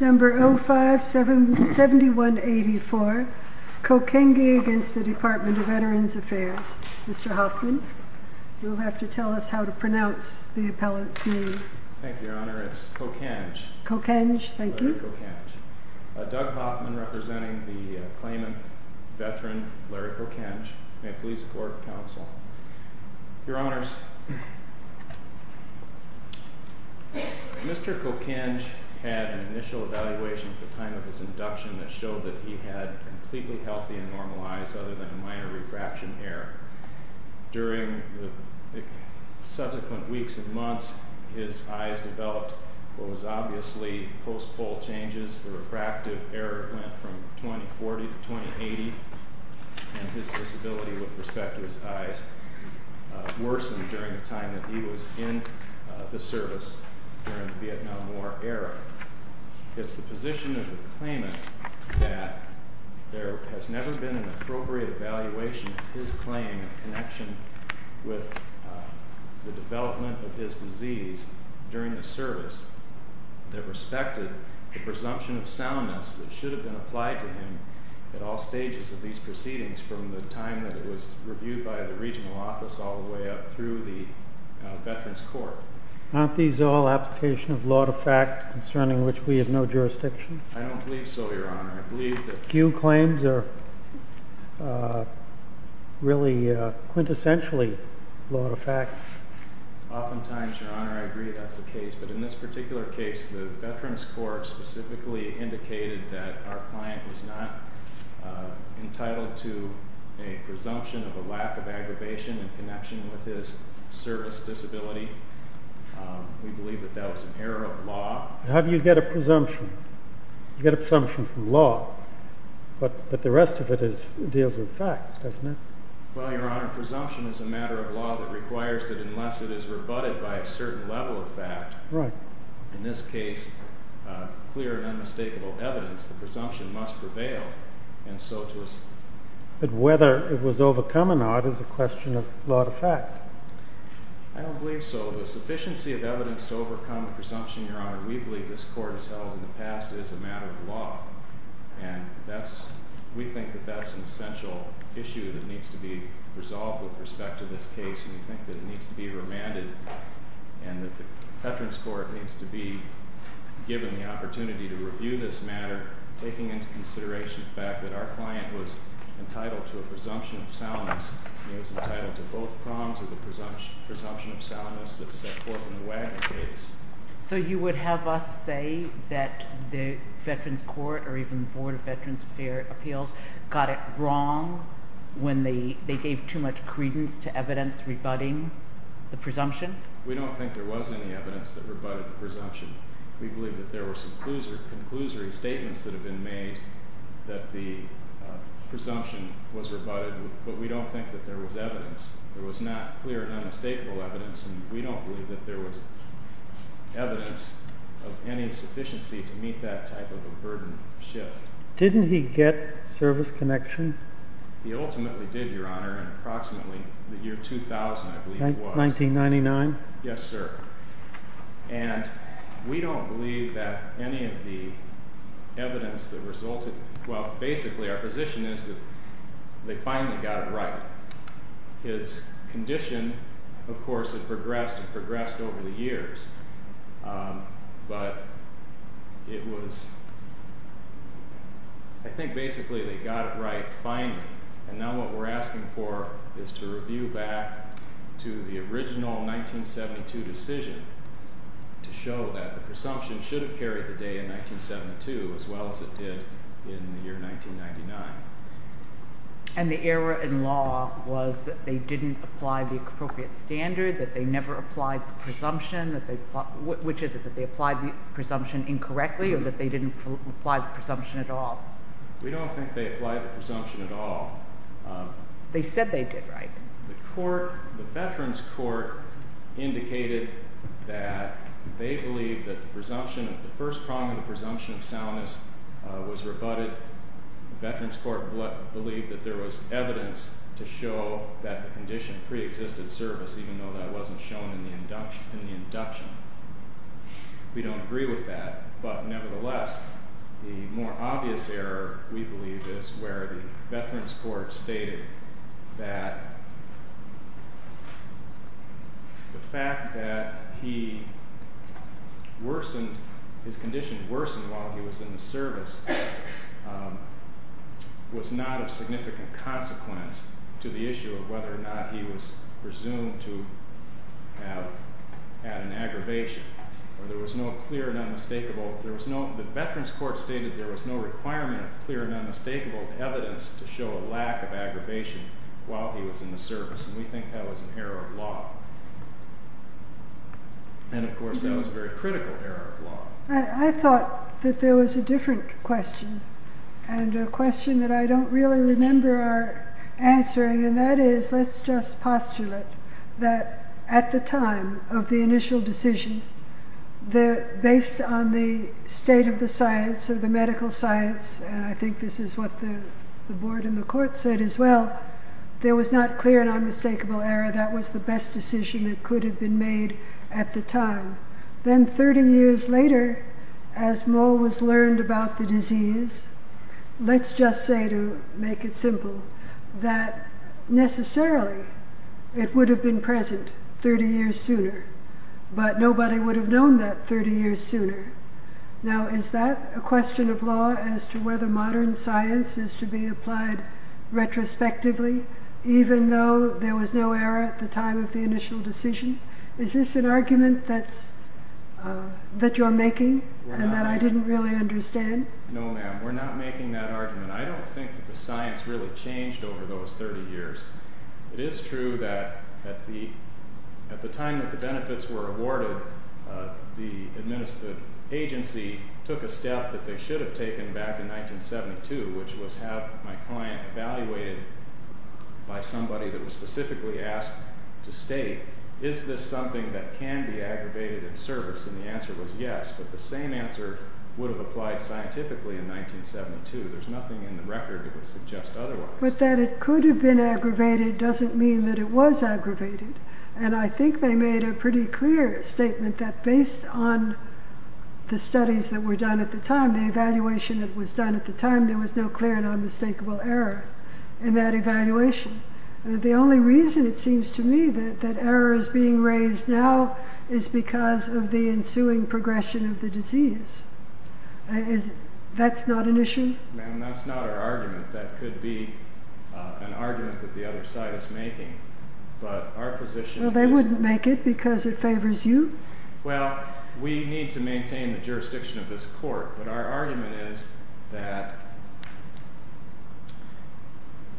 Number 057184 Kokenge v. Department of Veterans Affairs Mr. Hoffman, you will have to tell us how to pronounce the appellant's name. Thank you, Your Honor. It's Kokenge. Kokenge, thank you. Larry Kokenge. Doug Hoffman representing the claimant, veteran, Larry Kokenge. May it please the Court of Counsel. Your Honors, Mr. Kokenge had an initial evaluation at the time of his induction that showed that he had completely healthy and normalized, other than a minor refraction error. During the subsequent weeks and months, his eyes developed what was obviously post-full changes. The refractive error went from 2040 to 2080, and his disability with respect to his eyes worsened during the time that he was in the service during the Vietnam War era. It's the position of the claimant that there has never been an appropriate evaluation of his claim in connection with the development of his disease during the service that respected the presumption of soundness that should have been applied to him at all stages of these proceedings from the time that it was reviewed by the regional office all the way up through the Veterans Court. Aren't these all applications of law to fact concerning which we have no jurisdiction? I don't believe so, Your Honor. I believe that few claims are really quintessentially law to fact. Oftentimes, Your Honor, I agree that's the case. But in this particular case, the Veterans Court specifically indicated that our client was not entitled to a presumption of a lack of aggravation in connection with his service disability. We believe that that was an error of law. How do you get a presumption? You get a presumption from law, but the rest of it deals with facts, doesn't it? Well, Your Honor, presumption is a matter of law that requires that unless it is rebutted by a certain level of fact, in this case, clear and unmistakable evidence, the presumption must prevail, and so it was. But whether it was overcome or not is a question of law to fact. I don't believe so. The sufficiency of evidence to overcome the presumption, Your Honor, we believe this Court has held in the past is a matter of law. And we think that that's an essential issue that needs to be resolved with respect to this case, and we think that it needs to be remanded and that the Veterans Court needs to be given the opportunity to review this matter, taking into consideration the fact that our client was entitled to a presumption of solemnness. He was entitled to both prongs of the presumption of solemnness that set forth in the Wagner case. So you would have us say that the Veterans Court or even the Board of Veterans Appeals got it wrong when they gave too much credence to evidence rebutting the presumption? We don't think there was any evidence that rebutted the presumption. We believe that there were some conclusory statements that have been made that the presumption was rebutted, but we don't think that there was evidence. There was not clear and unmistakable evidence, and we don't believe that there was evidence of any sufficiency to meet that type of a burden shift. Didn't he get service connection? He ultimately did, Your Honor, in approximately the year 2000, I believe it was. 1999? Yes, sir. And we don't believe that any of the evidence that resulted well, basically our position is that they finally got it right. His condition, of course, had progressed and progressed over the years, but it was, I think basically they got it right finally, and now what we're asking for is to review back to the original 1972 decision to show that the presumption should have carried the day in 1972 as well as it did in the year 1999. And the error in law was that they didn't apply the appropriate standard, that they never applied the presumption, which is that they applied the presumption incorrectly or that they didn't apply the presumption at all? We don't think they applied the presumption at all. They said they did, right? The veterans' court indicated that they believe that the presumption, the first prong of the presumption of soundness was rebutted. The veterans' court believed that there was evidence to show that the condition preexisted service, even though that wasn't shown in the induction. We don't agree with that, but nevertheless, the more obvious error, we believe, is where the veterans' court stated that the fact that he worsened, his condition worsened while he was in the service was not of significant consequence to the issue of whether or not he was presumed to have had an aggravation or there was no clear and unmistakable, the veterans' court stated there was no requirement of clear and unmistakable evidence to show a lack of aggravation while he was in the service, and we think that was an error of law. And, of course, that was a very critical error of law. I thought that there was a different question and a question that I don't really remember our answering, and that is, let's just postulate that at the time of the initial decision, based on the state of the science, of the medical science, and I think this is what the board and the court said as well, there was not clear and unmistakable error. That was the best decision that could have been made at the time. Then 30 years later, as more was learned about the disease, let's just say, to make it simple, that necessarily it would have been present 30 years sooner, but nobody would have known that 30 years sooner. Now, is that a question of law as to whether modern science is to be applied retrospectively, even though there was no error at the time of the initial decision? Is this an argument that you're making and that I didn't really understand? No, ma'am, we're not making that argument. I don't think that the science really changed over those 30 years. It is true that at the time that the benefits were awarded, the agency took a step that they should have taken back in 1972, which was have my client evaluated by somebody that was specifically asked to state, is this something that can be aggravated in service? And the answer was yes, but the same answer would have applied scientifically in 1972. There's nothing in the record that would suggest otherwise. But that it could have been aggravated doesn't mean that it was aggravated, and I think they made a pretty clear statement that based on the studies that were done at the time, the evaluation that was done at the time, there was no clear and unmistakable error in that evaluation. The only reason it seems to me that error is being raised now is because of the ensuing progression of the disease. That's not an issue? Ma'am, that's not our argument. That could be an argument that the other side is making, but our position is... Well, they wouldn't make it because it favors you? Well, we need to maintain the jurisdiction of this court, but our argument is that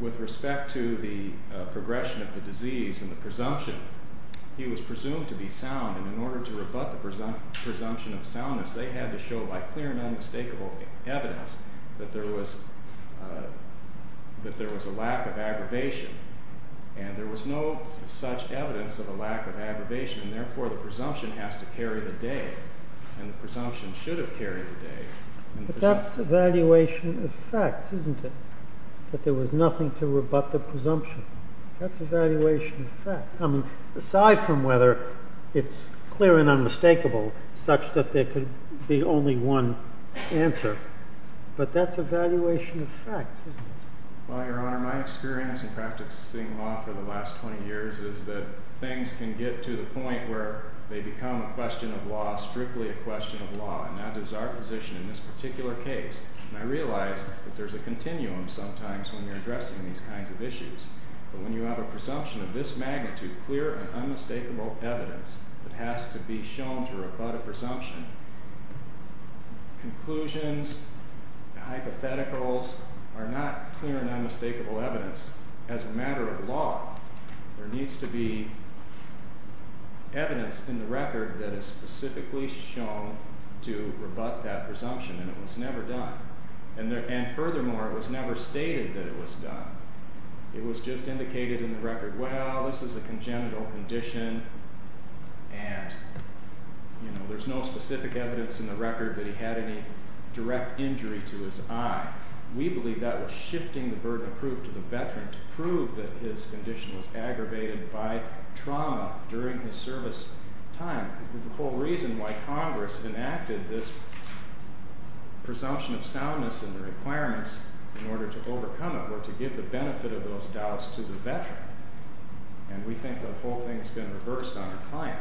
with respect to the progression of the disease and the presumption, he was presumed to be sound, and in order to rebut the presumption of soundness, they had to show by clear and unmistakable evidence that there was a lack of aggravation, and there was no such evidence of a lack of aggravation, and therefore the presumption has to carry the day, and the presumption should have carried the day. But that's evaluation of facts, isn't it? That there was nothing to rebut the presumption. That's evaluation of facts. Aside from whether it's clear and unmistakable such that there could be only one answer. But that's evaluation of facts, isn't it? Well, Your Honor, my experience in practicing law for the last 20 years is that things can get to the point where they become a question of law, strictly a question of law, and that is our position in this particular case. And I realize that there's a continuum sometimes when you're addressing these kinds of issues, but when you have a presumption of this magnitude, clear and unmistakable evidence, it has to be shown to rebut a presumption. Conclusions, hypotheticals, are not clear and unmistakable evidence. As a matter of law, there needs to be evidence in the record that is specifically shown to rebut that presumption, and it was never done. And furthermore, it was never stated that it was done. It was just indicated in the record, well, this is a congenital condition, and there's no specific evidence in the record that he had any direct injury to his eye. We believe that was shifting the burden of proof to the veteran to prove that his condition was aggravated by trauma during his service time. The whole reason why Congress enacted this presumption of soundness and the requirements in order to overcome it were to give the benefit of those doubts to the veteran, and we think the whole thing's been reversed on the client,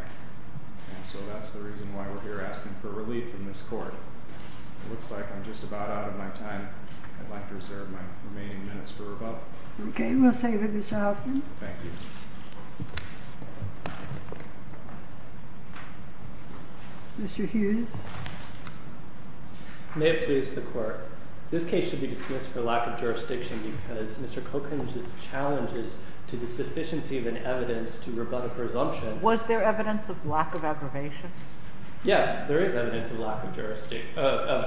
and so that's the reason why we're here asking for relief in this court. It looks like I'm just about out of my time. I'd like to reserve my remaining minutes for rebuttal. Okay, we'll say that it's out. Thank you. Mr. Hughes? May it please the Court, this case should be dismissed for lack of jurisdiction because Mr. Cochran's challenges to the sufficiency of an evidence to rebut a presumption. Was there evidence of lack of aggravation? Yes, there is evidence of lack of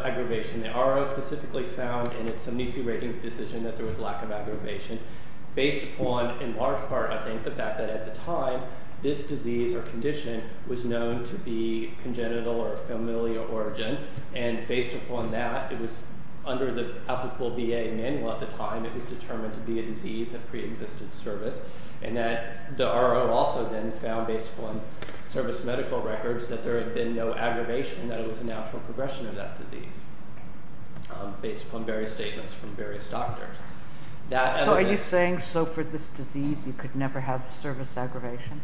aggravation. The RO specifically found in its 72 rating decision that there was lack of aggravation based upon, in large part, I think, the fact that at the time this disease or condition was known to be congenital or familial origin, and based upon that, it was under the applicable VA manual at the time it was determined to be a disease of preexistent service, and that the RO also then found, based upon service medical records, that there had been no aggravation, that it was a natural progression of that disease based upon various statements from various doctors. So are you saying for this disease you could never have service aggravation?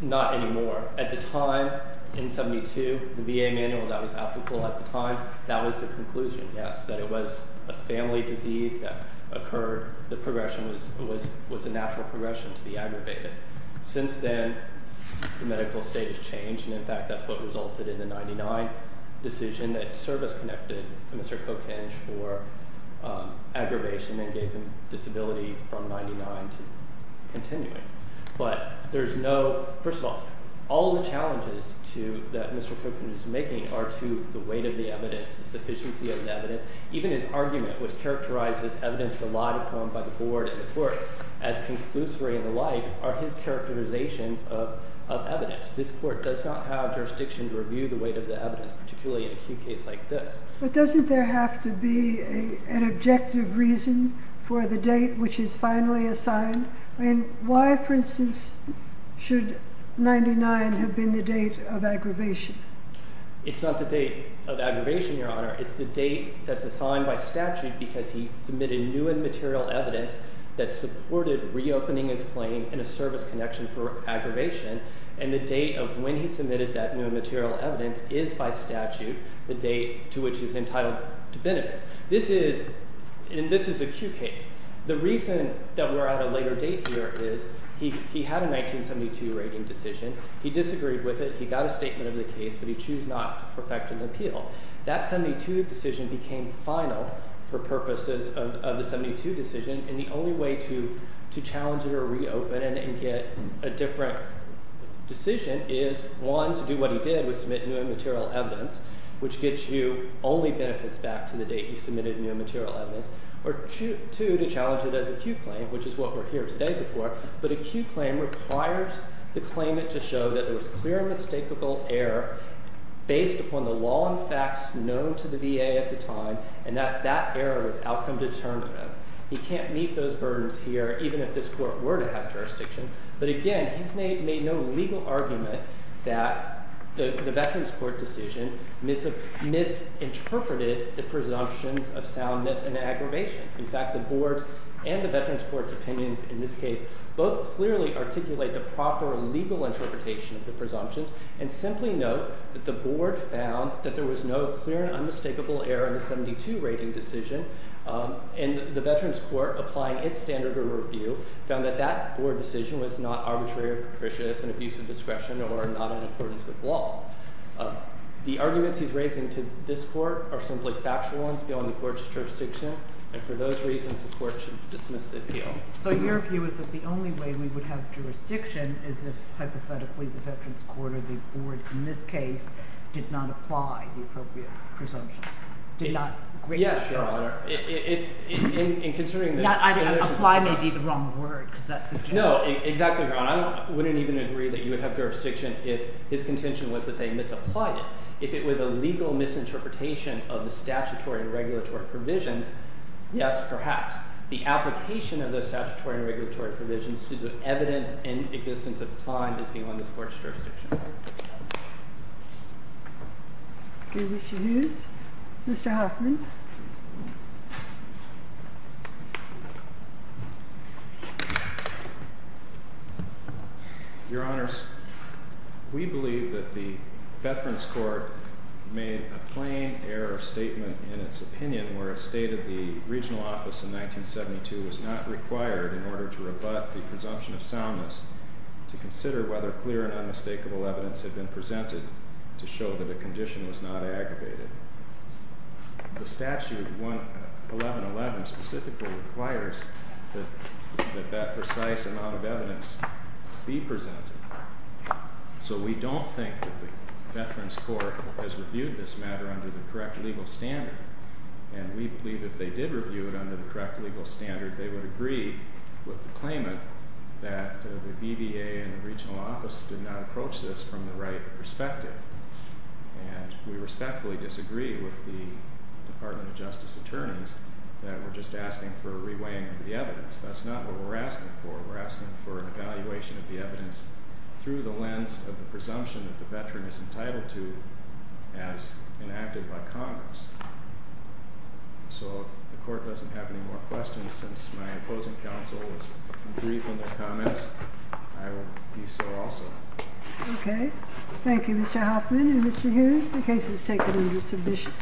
Not anymore. At the time, in 72, the VA manual that was applicable at the time, that was the conclusion, yes, that it was a family disease that occurred. The progression was a natural progression to be aggravated. Since then, the medical state has changed, and in fact that's what resulted in the 99 decision that service-connected Mr. Cochran for aggravation and gave him disability from 99 to continuing. First of all, all the challenges that Mr. Cochran is making are to the weight of the evidence, the sufficiency of the evidence. Even his argument, which characterizes evidence relied upon by the board and the court as conclusory in the life, are his characterizations of evidence. This court does not have jurisdiction to review the weight of the evidence, particularly in a case like this. But doesn't there have to be an objective reason for the date which is finally assigned? Why, for instance, should 99 have been the date of aggravation? It's not the date of aggravation, Your Honor. It's the date that's assigned by statute because he submitted new and material evidence that supported reopening his claim in a service connection for aggravation, and the date of when he submitted that new and material evidence is by statute the date to which he's entitled to benefit. This is an acute case. The reason that we're at a later date here is he had a 1972 rating decision. He disagreed with it. He got a statement of the case, but he chose not to perfect an appeal. That 72 decision became final for purposes of the 72 decision, and the only way to challenge it or reopen it and get a different decision is, one, to do what he did, which was submit new and material evidence, which gets you only benefits back to the date you submitted new and material evidence, or two, to challenge it as acute claim, which is what we're here today before, but acute claim requires the claimant to show that there was clear and mistakable error based upon the law and facts known to the VA at the time, and that that error was outcome determinative. He can't meet those burdens here even if this court were to have jurisdiction, but again, he's made no legal argument that the Veterans Court decision misinterpreted the presumptions of soundness and aggravation. In fact, the board's and the Veterans Court's opinions in this case both clearly articulate the proper legal interpretation of the presumptions and simply note that the board found that there was no clear and unmistakable error in the 72 rating decision, and the Veterans Court, applying its standard of review, found that that board decision was not arbitrary or capricious in abuse of discretion or not in accordance with law. The arguments he's raising to this court are simply factual ones beyond the court's jurisdiction, and for those reasons the court should dismiss the appeal. So your view is that the only way we would have jurisdiction is if hypothetically the Veterans Court or the board in this case did not apply the appropriate presumption, did not grant that jurisdiction. Yes, Your Honor. Apply may be the wrong word. No, exactly wrong. I wouldn't even agree that you would have jurisdiction if his contention was that they misapplied it. If it was a legal misinterpretation of the statutory and regulatory provisions, yes, perhaps. The application of the statutory and regulatory provisions to the evidence and existence of the time is beyond this court's jurisdiction. Mr. Hughes? Mr. Hoffman? Your Honors, we believe that the Veterans Court made a plain error statement in its opinion where a state of the regional office in 1972 was not required in order to rebut the presumption of soundness to consider whether clear and unmistakable evidence had been presented to show that the condition was not aggravated. The statute 1111 specifically requires that that precise amount of evidence be presented. So we don't think that the Veterans Court has reviewed this matter under the correct legal standard. And we believe if they did review it under the correct legal standard, they would agree with the claimant that the BVA and the regional office did not approach this from the right perspective. And we respectfully disagree with the Department of Justice attorneys that we're just asking for a reweighing of the evidence. That's not what we're asking for. We're asking for an evaluation of the evidence through the lens of the presumption that the veteran is entitled to as enacted by Congress. So if the court doesn't have any more questions since my opposing counsel was brief in their comments, I will be so also. Okay. Thank you, Mr. Hoffman and Mr. Hughes. The case is taken under submission.